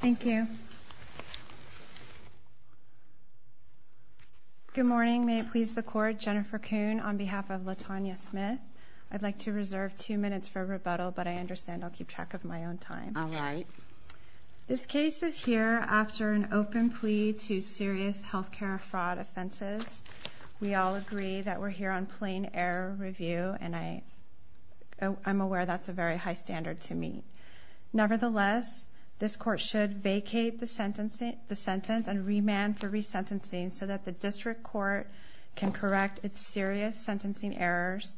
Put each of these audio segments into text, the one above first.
Thank you. Good morning. May it please the court, Jennifer Kuhn on behalf of L'Tanya Smith. I'd like to reserve two minutes for rebuttal but I understand I'll keep track of my own time. All right. This case is here after an open plea to serious health care fraud offenses. We all agree that we're here on plain-air review and I'm aware that's a very high standard to meet. Nevertheless, this court should vacate the sentence and remand for resentencing so that the district court can correct its serious sentencing errors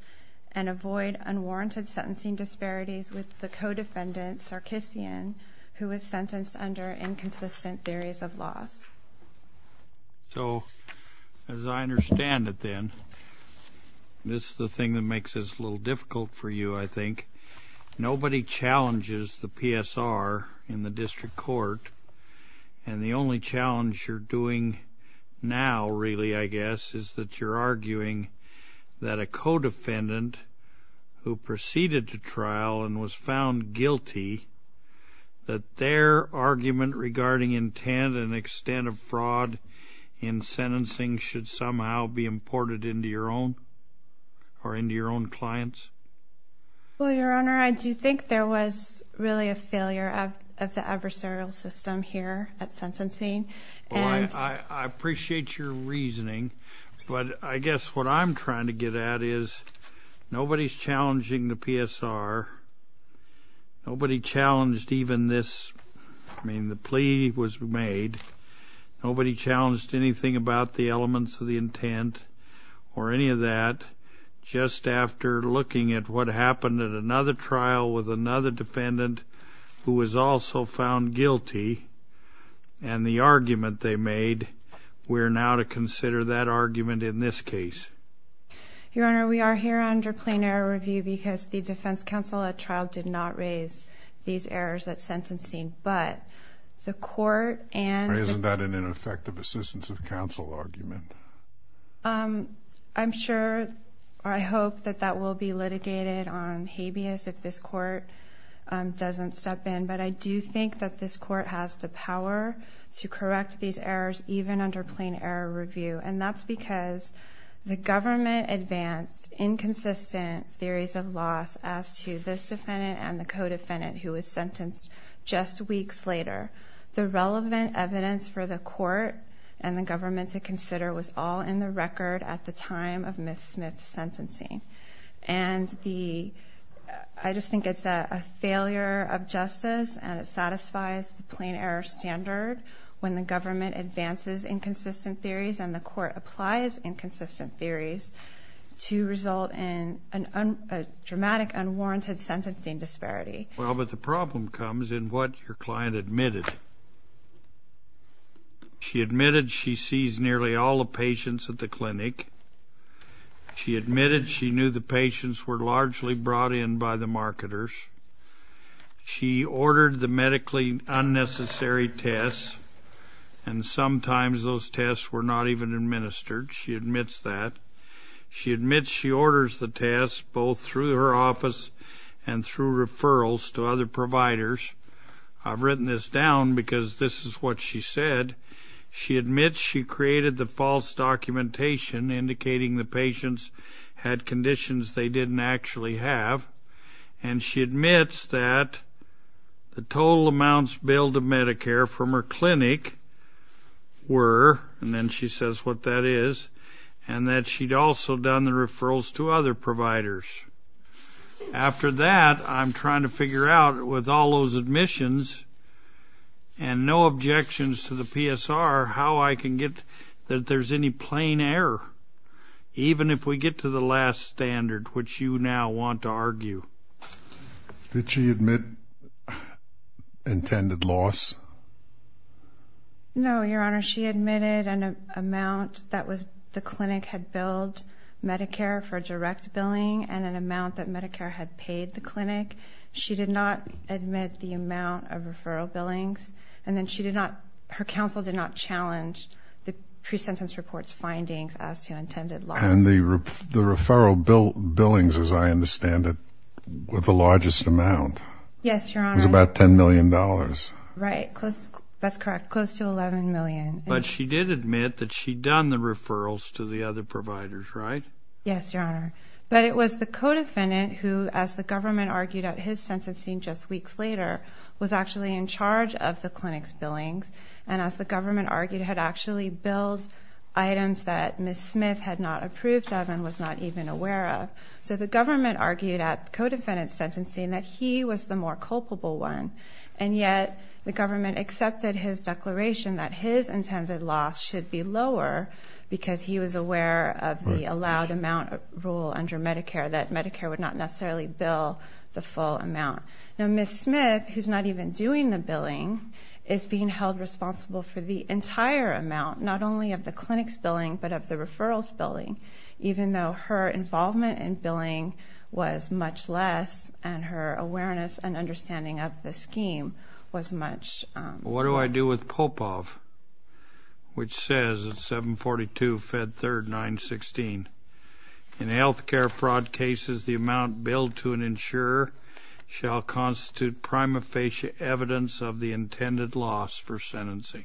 and avoid unwarranted sentencing disparities with the co-defendant, Sarkissian, who was sentenced under inconsistent theories of loss. So, as I understand it then, this is the thing that makes this a little difficult for you, I think. Nobody challenges the PSR in the district court and the only challenge you're doing now, really, I guess, is that you're arguing that a co-defendant who proceeded to trial and was found guilty, that their argument regarding intent and extent of fraud in sentencing should somehow be imported into your own or into your own clients? Well, Your Honor, I do think there was really a failure of the adversarial system here at sentencing and... Well, I appreciate your reasoning but I guess what I'm trying to get at is nobody's challenging the PSR, nobody challenged even this, I mean, the plea was made, nobody challenged anything about the elements of the intent or any of that, just after looking at what happened at another trial with another defendant who was also found guilty and the argument they made, we're now to consider that argument in this case. Your Honor, we are here under plain error review because the defense counsel at trial did not raise these errors at sentencing but the court and... Isn't that an ineffective assistance of counsel argument? I'm sure, I hope that that will be litigated on habeas if this court doesn't step in but I do think that this court has the power to correct these errors even under plain error review and that's because the government advanced inconsistent theories of loss as to this defendant and the co-defendant who was sentenced just weeks later. The relevant evidence for the court and the government to consider was all in the record at the time of Ms. Smith's sentencing and the... I just think it's a failure of justice and it satisfies the plain error standard when the government advances inconsistent theories and the court applies inconsistent theories to result in a dramatic unwarranted sentencing disparity. Well, but the problem comes in what your client admitted. She admitted she sees nearly all the patients at the clinic. She admitted she knew the patients were largely brought in by the marketers. She ordered the medically unnecessary tests and sometimes those tests were not even administered. She admits that. She admits she orders the tests both through her office and through referrals to other providers. I've written this down because this is what she said. She admits she created the false documentation indicating the patients had conditions they didn't actually have and she admits that the total amounts billed to Medicare from her clinic were, and then she says what that is, and that she'd also done the referrals to other providers. After that, I'm trying to figure out with all those admissions and no objections to the PSR how I can get that there's any plain error even if we get to the last standard which you now want to argue. Did she admit intended loss? No, your honor. She admitted an amount that was the clinic had billed Medicare for direct billing and an amount that Medicare had paid the clinic. She did not admit the amount of referral billings and then she did not, her counsel did not challenge the pre-sentence reports findings as to intended loss. And the referral billings, as I understand it, were the largest amount. Yes, your honor. It was about $10 million. Right, that's correct, close to $11 million. But she did admit that she'd done the referrals to the other providers, right? Yes, your honor. But it was the co-defendant who, as the government argued at his sentencing just weeks later, was actually in charge of the clinic's billings and as the government argued had actually billed items that Ms. Smith had not approved of and was not even aware of. So the government argued at the co-defendant's sentencing that he was the more culpable one and yet the government accepted his declaration that his intended loss should be lower because he was aware of the allowed amount rule under Medicare that Medicare would not necessarily bill the full amount. Now Ms. Smith, who's not even doing the billing, is being held responsible for the entire amount, not only of the clinic's billing but of the referral's billing, even though her involvement in billing was much less and her awareness and understanding of the scheme was much less. What do I do with Popov, which says at 742 Fed 3rd 916, in health care fraud cases the amount billed to an insurer shall constitute prima facie evidence of the intended loss for sentencing.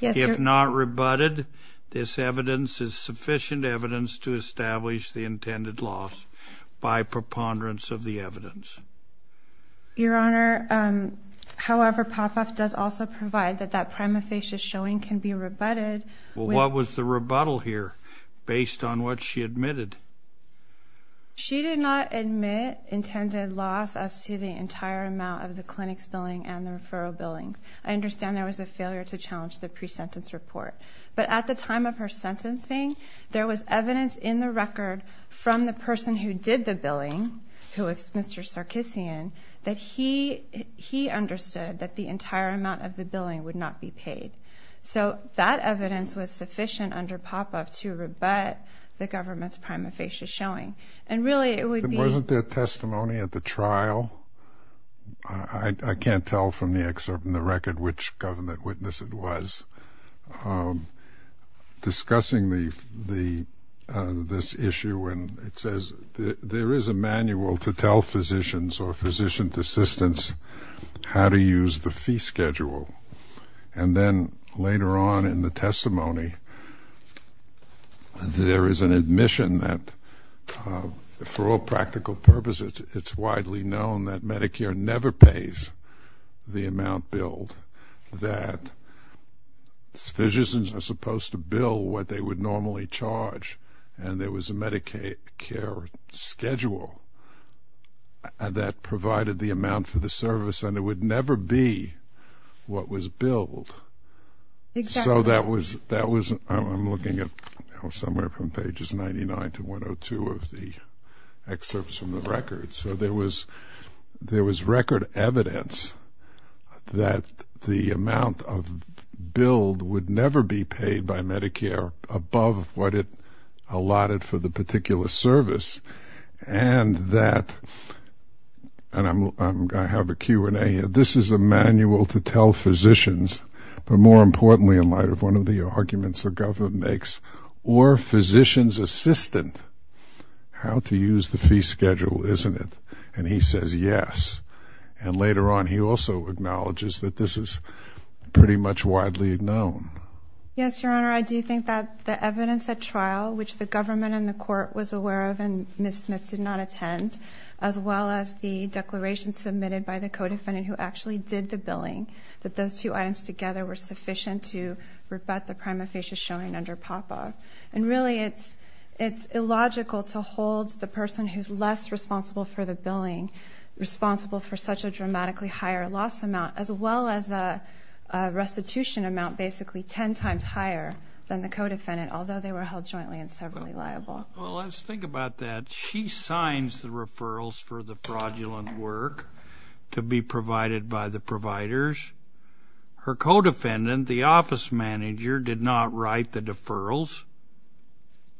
Yes, your... If it's not rebutted, this evidence is sufficient evidence to establish the intended loss by preponderance of the evidence. Your Honor, however, Popov does also provide that that prima facie showing can be rebutted with... Well, what was the rebuttal here based on what she admitted? She did not admit intended loss as to the entire amount of the clinic's billing and the referral billings. I understand there was a failure to challenge the pre-sentence report, but at the time of her sentencing there was evidence in the record from the person who did the billing, who was Mr. Sarkissian, that he understood that the entire amount of the billing would not be paid. So that evidence was sufficient under Popov to rebut the government's prima facie showing. And really it would be... which government witness it was, discussing this issue when it says there is a manual to tell physicians or physician's assistants how to use the fee schedule. And then later on in the testimony there is an admission that for all practical purposes it's widely known that Medicare never pays the amount billed, that physicians are supposed to bill what they would normally charge. And there was a Medicare schedule that provided the amount for the service and it would never be what was billed. So that was, I'm looking at somewhere from pages 99 to 102 of the excerpts from the record so there was record evidence that the amount billed would never be paid by Medicare above what it allotted for the particular service and that, and I have a Q&A here, this is a manual to tell physicians, but more importantly in light of one of the arguments the government makes, or physician's assistant, how to use the fee schedule, isn't it? And he says yes. And later on he also acknowledges that this is pretty much widely known. Yes, Your Honor, I do think that the evidence at trial, which the government and the court was aware of and Ms. Smith did not attend, as well as the declaration submitted by the co-defendant who actually did the billing, that those two items together were sufficient to rebut the prima facie showing under PAPA. And really it's illogical to hold the person who's less responsible for the billing responsible for such a dramatically higher loss amount, as well as a restitution amount basically ten times higher than the co-defendant, although they were held jointly and severally liable. Well, let's think about that. She signs the referrals for the fraudulent work to be provided by the providers. Her co-defendant, the office manager, did not write the deferrals.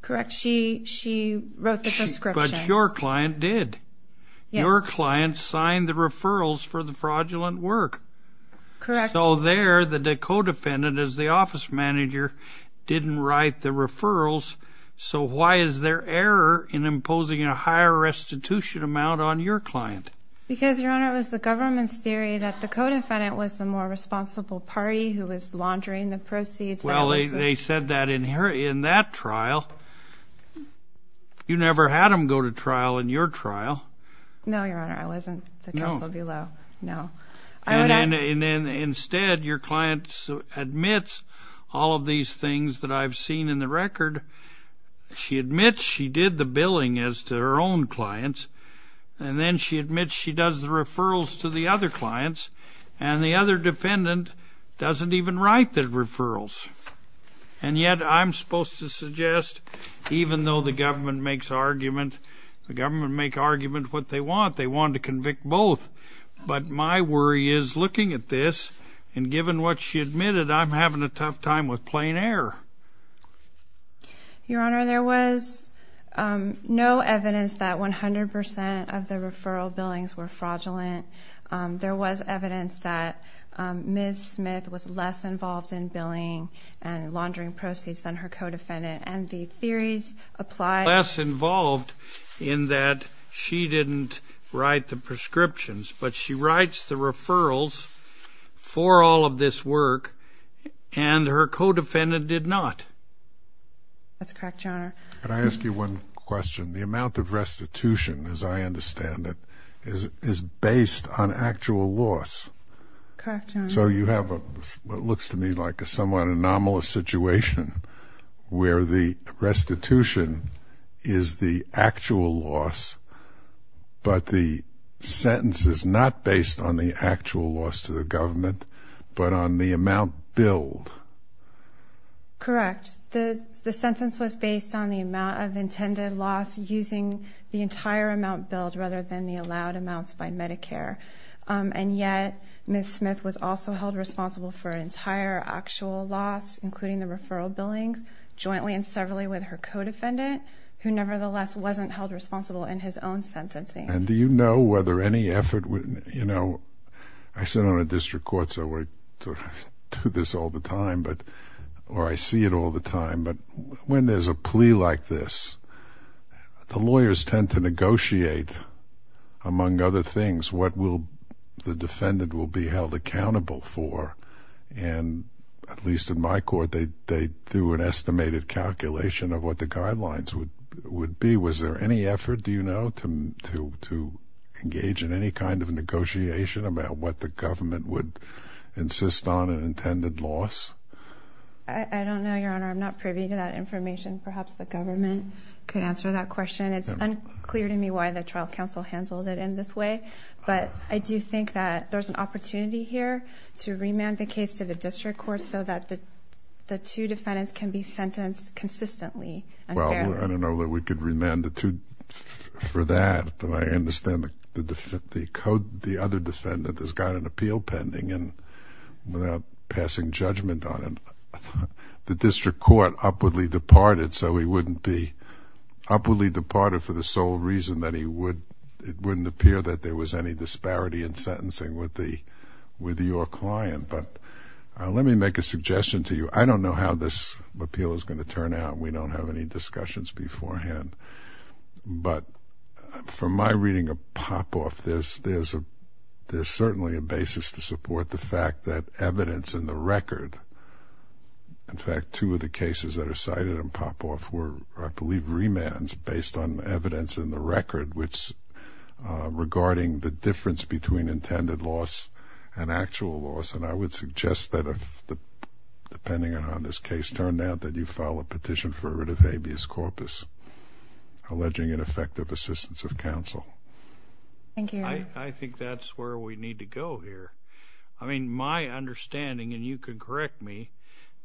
Correct. She wrote the prescriptions. But your client did. Your client signed the referrals for the fraudulent work. Correct. So there the co-defendant, as the office manager, didn't write the referrals. So why is there error in imposing a higher restitution amount on your client? Because, Your Honor, it was the government's theory that the co-defendant was the more responsible party who was laundering the proceeds. Well, they said that in that trial. You never had them go to trial in your trial. No, Your Honor, I wasn't. The counsel below. No. No. And then instead your client admits all of these things that I've seen in the record. She admits she did the billing as to her own clients. And then she admits she does the referrals to the other clients. And the other defendant doesn't even write the referrals. And yet I'm supposed to suggest, even though the government makes argument, the government make argument what they want. They want to convict both. But my worry is, looking at this, and given what she admitted, I'm having a tough time with plain error. Your Honor, there was no evidence that 100% of the referral billings were fraudulent. There was evidence that Ms. Smith was less involved in billing and laundering proceeds than her co-defendant. And the theories apply. Less involved in that she didn't write the prescriptions. But she writes the referrals for all of this work. And her co-defendant did not. That's correct, Your Honor. Can I ask you one question? The amount of restitution, as I understand it, is based on actual loss. So you have what looks to me like a somewhat anomalous situation where the restitution is the actual loss, but the sentence is not based on the actual loss to the government, but on the amount billed. Correct. The sentence was based on the amount of intended loss using the entire amount billed rather than the allowed amounts by Medicare. And yet, Ms. Smith was also held responsible for an entire actual loss, including the referral billings, jointly and severally with her co-defendant, who nevertheless wasn't held responsible in his own sentencing. And do you know whether any effort, you know, I sit on a district court, so I do this all the time, or I see it all the time, but when there's a plea like this, the lawyers tend to negotiate, among other things, what will the defendant will be held accountable for. And at least in my court, they do an estimated calculation of what the guidelines would be. Was there any effort, do you know, to engage in any kind of negotiation about what the government would insist on in intended loss? I don't know, Your Honor. I'm not privy to that information. Perhaps the government could answer that question. It's unclear to me why the trial counsel handled it in this way, but I do think that there's an opportunity here to remand the case to the district court so that the two defendants can be sentenced consistently. Well, I don't know that we could remand the two for that, but I understand the other defendant has got an appeal pending, and without passing judgment on him, the district court upwardly departed, so he wouldn't be upwardly departed for the sole reason that it wouldn't appear that there was any disparity in sentencing with your client. But let me make a suggestion to you. I don't know how this appeal is going to turn out. We don't have any discussions beforehand, but from my reading of Popoff, there's certainly a basis to support the fact that evidence in the record, in fact, two of the cases that are cited in Popoff were, I believe, remands based on evidence in the record, which regarding the difference between intended loss and actual loss, and I would suggest that, depending on how this case turned out, that you file a petition for a writ of habeas corpus alleging ineffective assistance of counsel. Thank you. I think that's where we need to go here. I mean, my understanding, and you can correct me,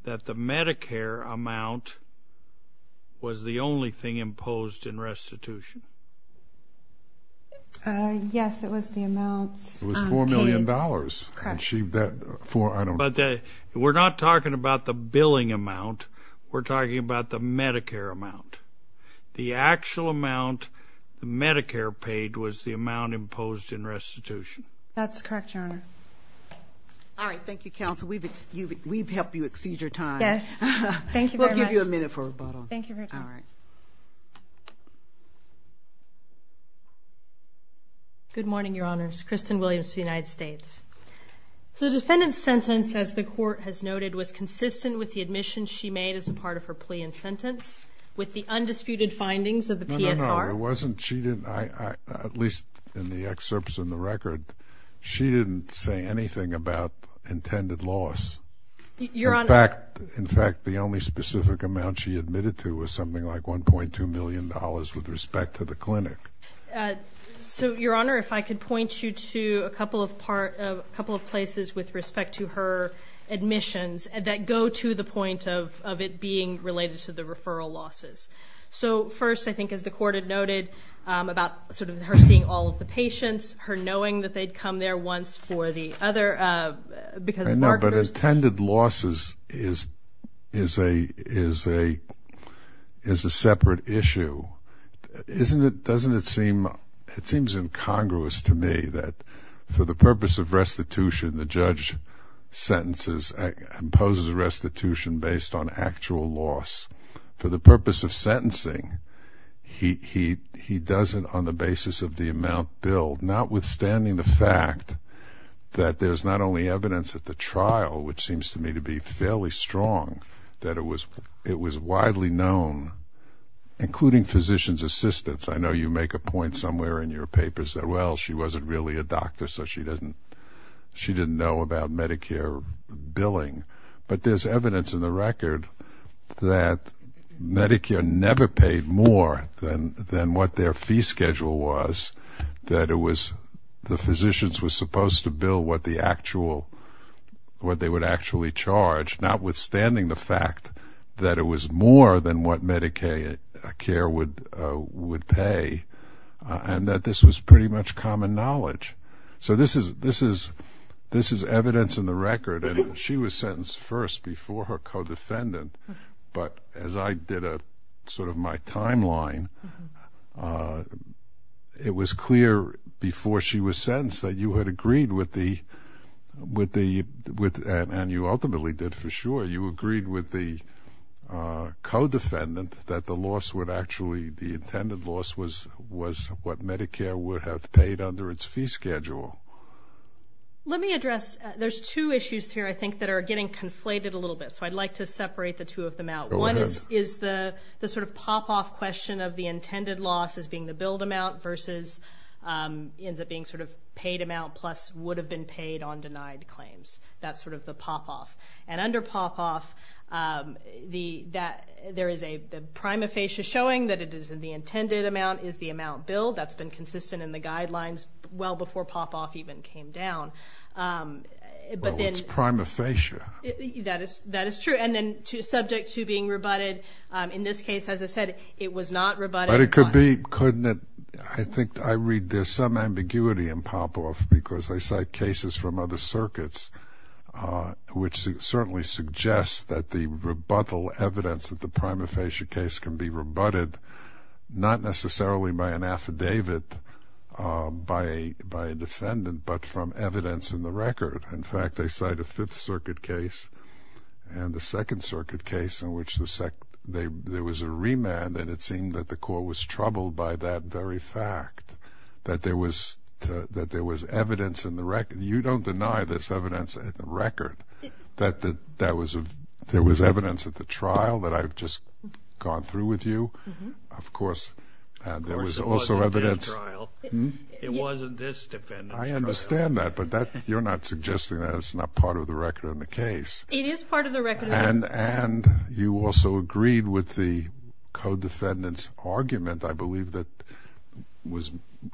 that the Medicare amount was the only thing imposed in restitution. Yes, it was the amounts paid. It was $4 million. Correct. And she, that, for, I don't know. But we're not talking about the billing amount. We're talking about the Medicare amount. The actual amount Medicare paid was the amount imposed in restitution. That's correct, Your Honor. All right. Thank you, counsel. We've helped you exceed your time. Yes. Thank you very much. We'll give you a minute for rebuttal. Thank you for your time. All right. Good morning, Your Honors. Kristen Williams for the United States. So the defendant's sentence, as the court has noted, was consistent with the admissions she made as a part of her plea and sentence with the undisputed findings of the PSR. No, no, no. It wasn't. She didn't, at least in the excerpts in the record, she didn't say anything about intended loss. Your Honor. In fact, the only specific amount she admitted to was something like $1.2 million with respect to the clinic. So, Your Honor, if I could point you to a couple of places with respect to her admissions that go to the point of it being related to the referral losses. So, first, I think, as the court had noted, about sort of her seeing all of the patients, her knowing that they'd come there once for the other, because it marked her. I know, but attended losses is a separate issue. Doesn't it seem, it seems incongruous to me that for the purpose of restitution, the judge sentences, imposes a restitution based on actual loss. For the purpose of sentencing, he does it on the basis of the amount billed, notwithstanding the fact that there's not only evidence at the trial, which seems to me to be fairly strong, that it was widely known, including physician's assistants. I know you make a point somewhere in your papers that, well, she wasn't really a doctor, so she didn't know about Medicare billing. But there's evidence in the record that Medicare never paid more than what their fee schedule was, that it was, the physicians were supposed to bill what the actual, what they would actually charge, notwithstanding the fact that it was more than what Medicaid care would pay, and that this was pretty much common knowledge. So this is evidence in the record, and she was sentenced first before her co-defendant, but as I did a sort of my timeline, it was clear before she was sentenced that you had You agreed with the co-defendant that the loss would actually, the intended loss was what Medicare would have paid under its fee schedule. Let me address, there's two issues here I think that are getting conflated a little bit, so I'd like to separate the two of them out. One is the sort of pop-off question of the intended loss as being the billed amount versus ends up being sort of paid amount plus would have been paid on denied claims. That's sort of the pop-off. And under pop-off, there is a prima facie showing that it is in the intended amount is the amount billed. That's been consistent in the guidelines well before pop-off even came down. Well, it's prima facie. That is true. And then subject to being rebutted, in this case, as I said, it was not rebutted. But it could be, couldn't it? I think I read there's some ambiguity in pop-off because they cite cases from other circuits which certainly suggest that the rebuttal evidence of the prima facie case can be rebutted not necessarily by an affidavit by a defendant but from evidence in the record. In fact, they cite a Fifth Circuit case and a Second Circuit case in which there was a remand and then it seemed that the court was troubled by that very fact, that there was evidence in the record. You don't deny this evidence in the record, that there was evidence at the trial that I've just gone through with you. Of course, there was also evidence. It wasn't this defendant's trial. I understand that, but you're not suggesting that it's not part of the record in the case. It is part of the record. And you also agreed with the co-defendant's argument, I believe, that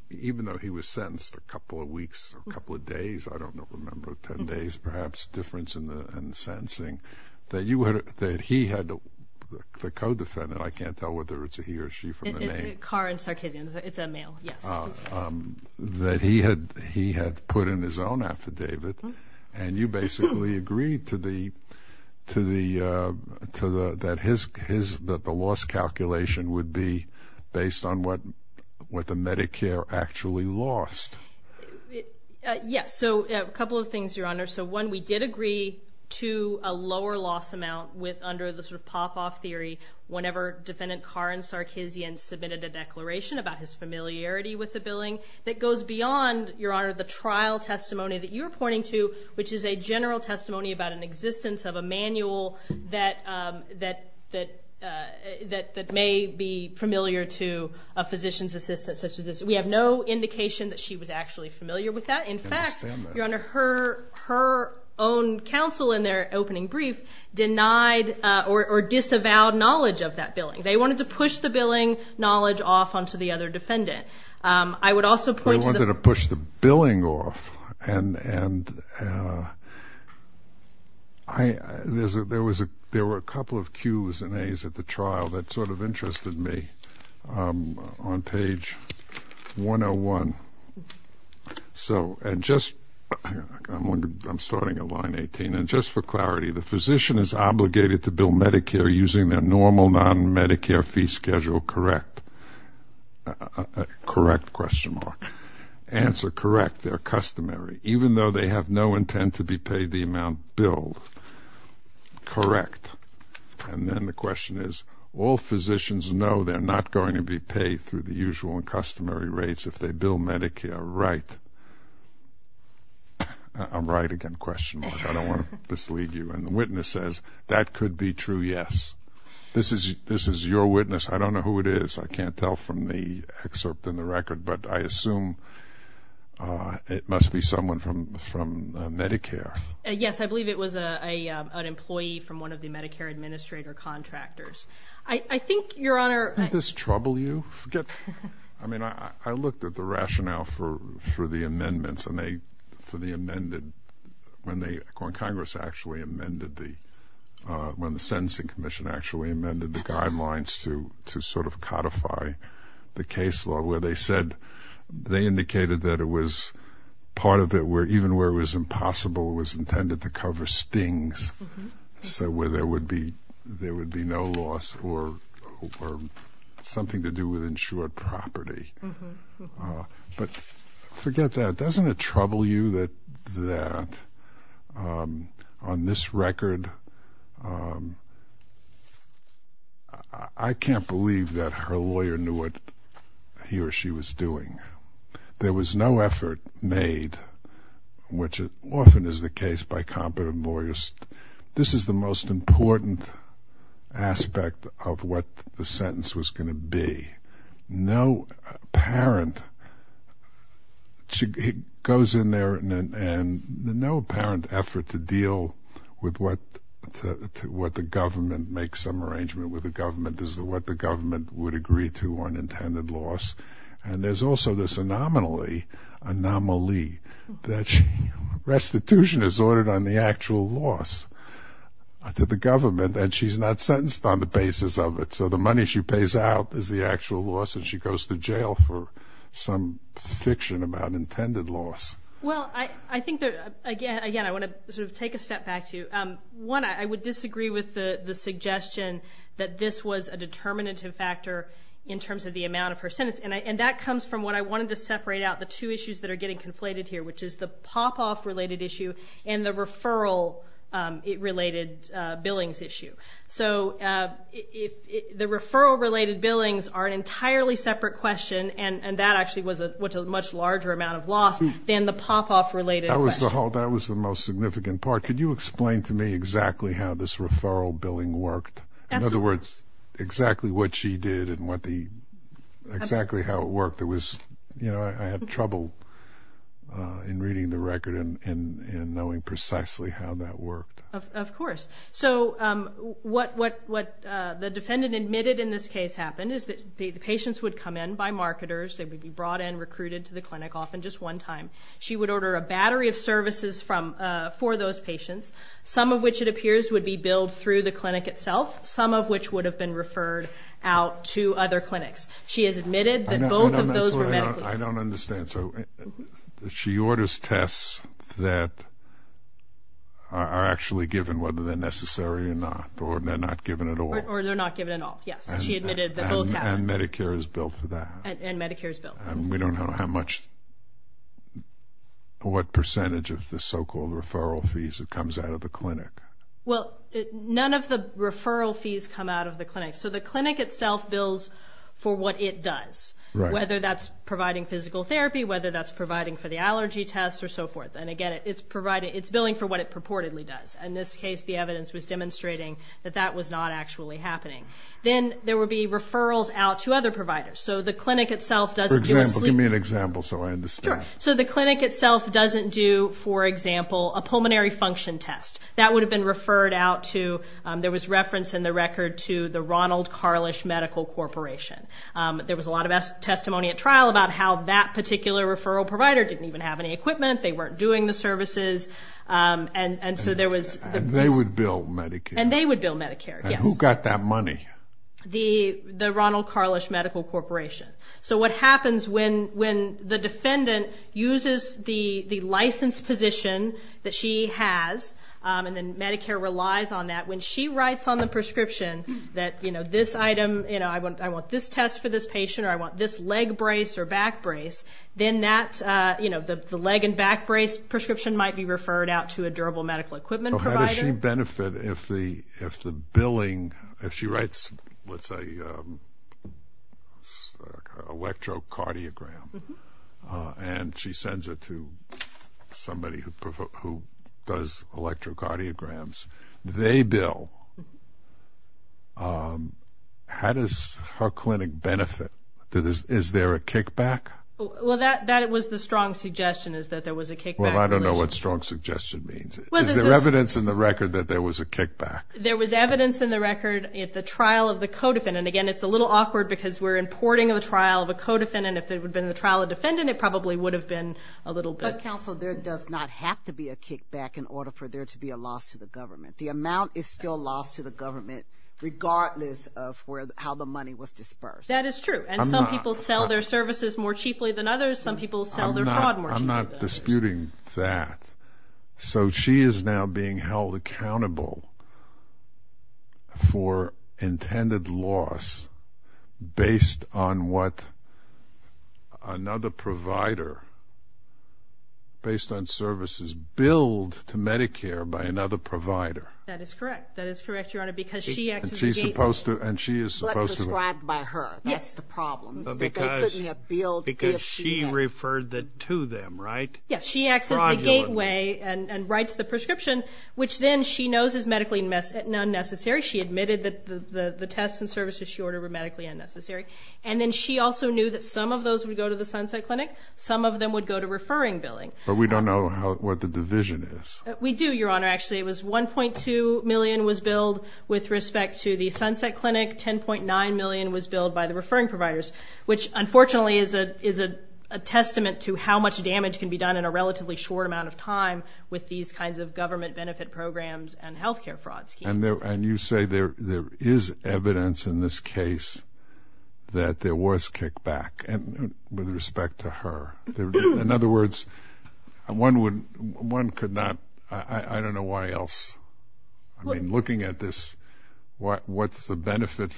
even though he was sentenced a couple of weeks, a couple of days, I don't remember, 10 days perhaps, difference in the sentencing, that he had, the co-defendant, I can't tell whether it's a he or she from the name. It's Carr and Sarkisian. It's a male, yes. That he had put in his own affidavit and you basically agreed to the, that the loss calculation would be based on what the Medicare actually lost. Yes, so a couple of things, Your Honor. So one, we did agree to a lower loss amount under the sort of pop-off theory whenever Defendant Carr and Sarkisian submitted a declaration about his familiarity with the billing that goes beyond, Your Honor, the trial testimony that you're pointing to, which is a general testimony about an existence of a manual that may be familiar to a physician's assistant. We have no indication that she was actually familiar with that. I understand that. Your Honor, her own counsel in their opening brief denied or disavowed knowledge of that billing. They wanted to push the billing knowledge off onto the other defendant. I would also point to the- They wanted to push the billing off and there were a couple of Qs and As at the trial that sort of interested me on page 101. And just, I'm starting at line 18, and just for clarity, the physician is obligated to bill Medicare using their normal non-Medicare fee schedule, correct? Correct, question mark. Answer, correct, they're customary, even though they have no intent to be paid the amount billed. Correct. And then the question is, all physicians know they're not going to be paid through the usual and customary rates if they bill Medicare, right? I'm right again, question mark. I don't want to mislead you. And the witness says, that could be true, yes. This is your witness. I don't know who it is. I can't tell from the excerpt in the record, but I assume it must be someone from Medicare. Yes, I believe it was an employee from one of the Medicare administrator contractors. I think, Your Honor- Did this trouble you? I mean, I looked at the rationale for the amendments and they, for the amended, when Congress actually amended the, when the Sentencing Commission actually amended the guidelines to sort of codify the case law where they said, they indicated that it was part of it, even where it was impossible, it was intended to cover stings, so where there would be no loss or something to do with insured property. But forget that. Doesn't it trouble you that on this record, I can't believe that her lawyer knew what he or she was doing? There was no effort made, which often is the case by competent lawyers. This is the most important aspect of what the sentence was going to be. No apparent, it goes in there and no apparent effort to deal with what the government, make some arrangement with the government as to what the government would agree to on intended loss. And there's also this anomaly that restitution is ordered on the actual loss to the government and she's not sentenced on the basis of it, so the money she pays out is the actual loss and she goes to jail for some fiction about intended loss. Well, I think that, again, I want to sort of take a step back to you. One, I would disagree with the suggestion that this was a determinative factor in terms of the amount of her sentence, and that comes from what I wanted to separate out, the two issues that are getting conflated here, which is the pop-off-related issue and the referral-related billings issue. So the referral-related billings are an entirely separate question, and that actually was a much larger amount of loss than the pop-off-related question. That was the most significant part. Could you explain to me exactly how this referral billing worked? In other words, exactly what she did and exactly how it worked. I had trouble in reading the record and knowing precisely how that worked. Of course. So what the defendant admitted in this case happened is that the patients would come in by marketers. They would be brought in, recruited to the clinic, often just one time. She would order a battery of services for those patients, some of which it appears would be billed through the clinic itself, some of which would have been referred out to other clinics. She has admitted that both of those were medical. I don't understand. So she orders tests that are actually given whether they're necessary or not, or they're not given at all. Or they're not given at all, yes. She admitted that both happened. And Medicare is billed for that. And Medicare is billed. We don't know what percentage of the so-called referral fees that comes out of the clinic. Well, none of the referral fees come out of the clinic. So the clinic itself bills for what it does, whether that's providing physical therapy, whether that's providing for the allergy tests or so forth. And, again, it's billing for what it purportedly does. In this case, the evidence was demonstrating that that was not actually happening. Then there would be referrals out to other providers. For example, give me an example so I understand. Sure. So the clinic itself doesn't do, for example, a pulmonary function test. That would have been referred out to the Ronald Carlish Medical Corporation. There was a lot of testimony at trial about how that particular referral provider didn't even have any equipment. They weren't doing the services. And they would bill Medicare. And they would bill Medicare, yes. And who got that money? The Ronald Carlish Medical Corporation. So what happens when the defendant uses the licensed position that she has, and then Medicare relies on that, when she writes on the prescription that, you know, this item, you know, I want this test for this patient or I want this leg brace or back brace, then that, you know, the leg and back brace prescription might be referred out to a durable medical equipment provider. So how does she benefit if the billing, if she writes, let's say, an electrocardiogram and she sends it to somebody who does electrocardiograms, they bill, how does her clinic benefit? Is there a kickback? Well, that was the strong suggestion is that there was a kickback. Well, I don't know what strong suggestion means. Is there evidence in the record that there was a kickback? There was evidence in the record at the trial of the co-defendant. Again, it's a little awkward because we're importing the trial of a co-defendant. If it would have been the trial of a defendant, it probably would have been a little bit. But, counsel, there does not have to be a kickback in order for there to be a loss to the government. The amount is still lost to the government regardless of how the money was dispersed. That is true. And some people sell their services more cheaply than others. Some people sell their fraud more cheaply than others. I'm not disputing that. So she is now being held accountable for intended loss based on what another provider, based on services billed to Medicare by another provider. That is correct. That is correct, Your Honor, because she acts as the gateway. And she is supposed to. But prescribed by her. Yes. That's the problem. Because she referred to them, right? Yes. She acts as the gateway and writes the prescription, which then she knows is medically unnecessary. She admitted that the tests and services she ordered were medically unnecessary. And then she also knew that some of those would go to the Sunset Clinic. Some of them would go to referring billing. But we don't know what the division is. We do, Your Honor. Actually, it was $1.2 million was billed with respect to the Sunset Clinic. $10.9 million was billed by the referring providers, which unfortunately is a testament to how much damage can be done in a relatively short amount of time with these kinds of government benefit programs and health care fraud schemes. And you say there is evidence in this case that there was kickback with respect to her. In other words, one could not – I don't know why else. I mean, looking at this, what's the benefit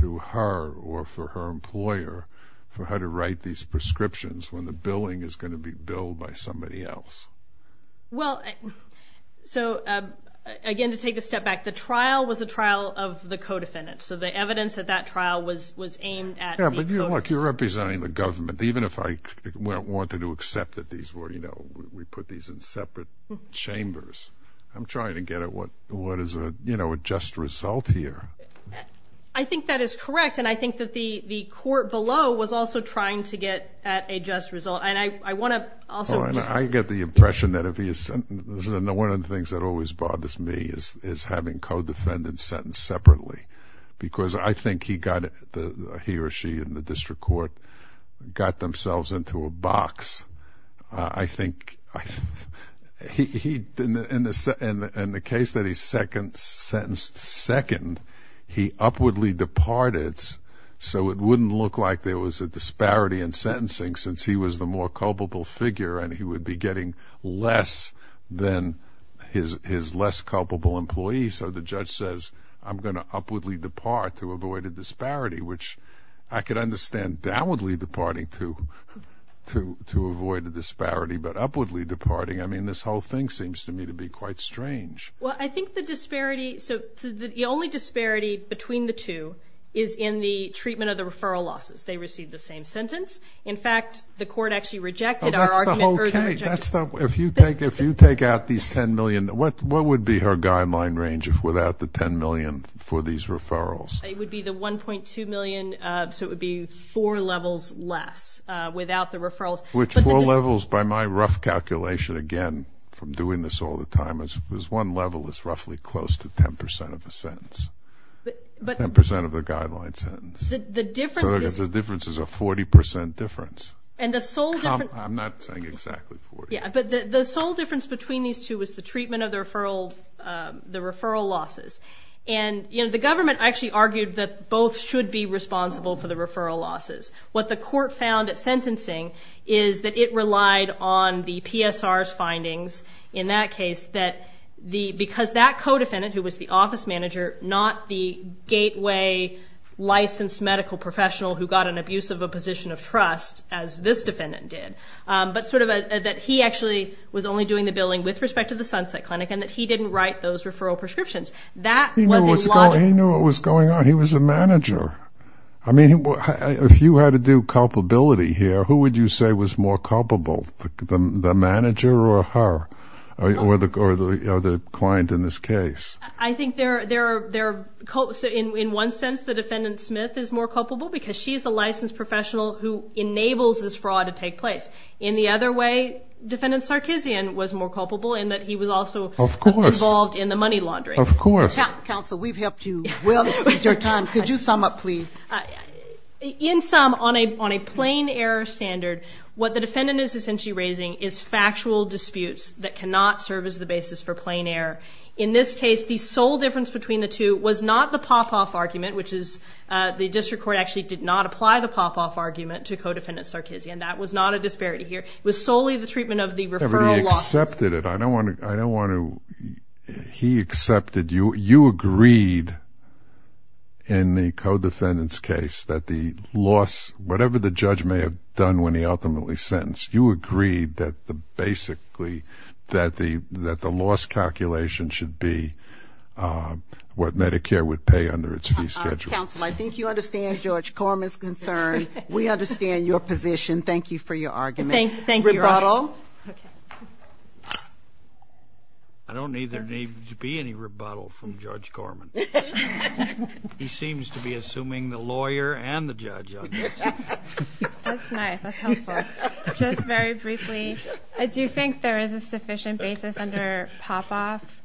to her or for her employer for her to write these prescriptions when the billing is going to be billed by somebody else? Well, so, again, to take a step back, the trial was a trial of the co-defendant. So the evidence at that trial was aimed at the co-defendant. Yeah, but look, you're representing the government. Even if I wanted to accept that these were – we put these in separate chambers, I'm trying to get at what is a just result here. I think that is correct, and I think that the court below was also trying to get at a just result. And I want to also – I get the impression that if he is – one of the things that always bothers me is having co-defendants because I think he got – he or she in the district court got themselves into a box. I think he – in the case that he's sentenced second, he upwardly departed, so it wouldn't look like there was a disparity in sentencing since he was the more culpable figure and he would be getting less than his less culpable employee. So the judge says, I'm going to upwardly depart to avoid a disparity, which I could understand downwardly departing to avoid a disparity, but upwardly departing, I mean, this whole thing seems to me to be quite strange. Well, I think the disparity – so the only disparity between the two is in the treatment of the referral losses. They received the same sentence. In fact, the court actually rejected our argument. Oh, that's the whole case. If you take out these $10 million, what would be her guideline range without the $10 million for these referrals? It would be the $1.2 million, so it would be four levels less without the referrals. Which four levels, by my rough calculation, again, from doing this all the time, is one level is roughly close to 10% of the sentence, 10% of the guideline sentence. So the difference is a 40% difference. I'm not saying exactly 40%. But the sole difference between these two is the treatment of the referral losses. And the government actually argued that both should be responsible for the referral losses. What the court found at sentencing is that it relied on the PSR's findings in that case because that co-defendant, who was the office manager, not the gateway licensed medical professional who got an abuse of a position of trust as this defendant did, but sort of that he actually was only doing the billing with respect to the Sunset Clinic and that he didn't write those referral prescriptions. He knew what was going on. He was the manager. I mean, if you had to do culpability here, who would you say was more culpable, the manager or her or the client in this case? Because she's a licensed professional who enables this fraud to take place. In the other way, defendant Sarkeesian was more culpable in that he was also involved in the money laundering. Of course. Counsel, we've helped you well to save your time. Could you sum up, please? In sum, on a plain error standard, what the defendant is essentially raising is factual disputes that cannot serve as the basis for plain error. In this case, the sole difference between the two was not the pop-off argument, which is the district court actually did not apply the pop-off argument to co-defendant Sarkeesian. That was not a disparity here. It was solely the treatment of the referral losses. But he accepted it. I don't want to. He accepted. You agreed in the co-defendant's case that the loss, whatever the judge may have done when he ultimately sentenced, you agreed that basically that the loss calculation should be what Medicare would pay under its fee schedule. Counsel, I think you understand George Corman's concern. We understand your position. Thank you for your argument. Thank you. Rebuttal? I don't need there to be any rebuttal from George Corman. He seems to be assuming the lawyer and the judge on this. That's nice. That's helpful. Just very briefly, I do think there is a sufficient basis under pop-off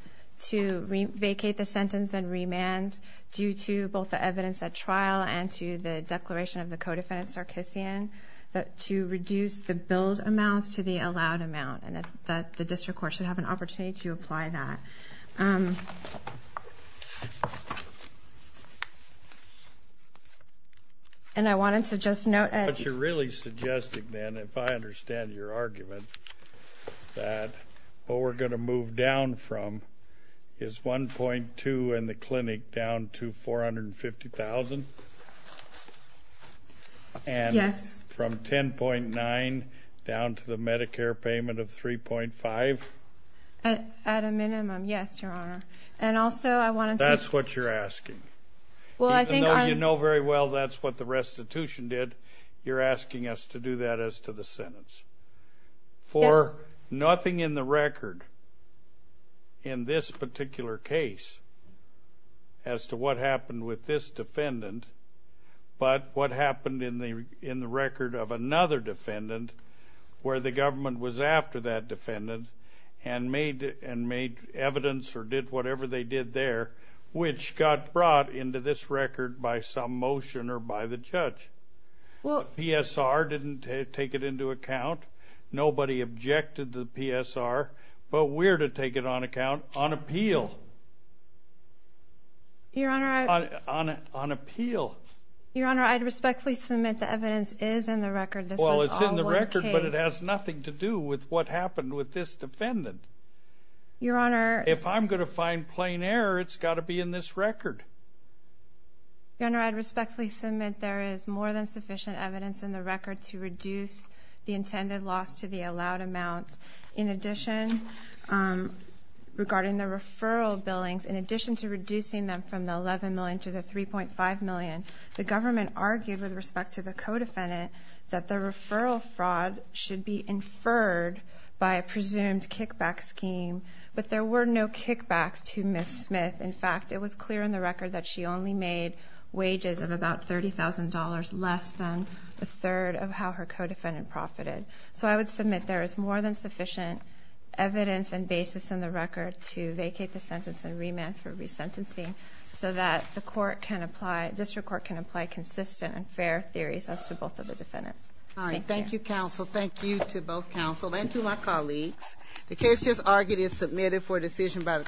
to vacate the sentence and remand due to both the evidence at trial and to the declaration of the co-defendant Sarkeesian to reduce the bill's amounts to the allowed amount. And the district court should have an opportunity to apply that. And I wanted to just note that you're really suggesting then, if I understand your argument, that what we're going to move down from is $1.2 in the clinic down to $450,000? Yes. And from $10.9 down to the Medicare payment of $3.5? At a minimum, yes, Your Honor. That's what you're asking. Even though you know very well that's what the restitution did, you're asking us to do that as to the sentence. For nothing in the record in this particular case as to what happened with this defendant, but what happened in the record of another defendant where the government was after that defendant and made evidence or did whatever they did there, which got brought into this record by some motion or by the judge. The PSR didn't take it into account. Nobody objected to the PSR, but we're to take it on account on appeal. Your Honor, I'd respectfully submit the evidence is in the record. This was all one case. Well, it's in the record, but it has nothing to do with what happened with this defendant. Your Honor. If I'm going to find plain error, it's got to be in this record. Your Honor, I'd respectfully submit there is more than sufficient evidence in the record to reduce the intended loss to the allowed amounts. In addition, regarding the referral billings, in addition to reducing them from the $11 million to the $3.5 million, the government argued with respect to the co-defendant that the referral fraud should be inferred by a presumed kickback scheme, but there were no kickbacks to Ms. Smith. In fact, it was clear in the record that she only made wages of about $30,000 less than a third of how her co-defendant profited. So I would submit there is more than sufficient evidence and basis in the record to vacate the sentence and remand for resentencing so that the court can apply, district court can apply consistent and fair theories as to both of the defendants. All right, thank you, counsel. Thank you to both counsel and to my colleagues. The case just argued and submitted for decision by the-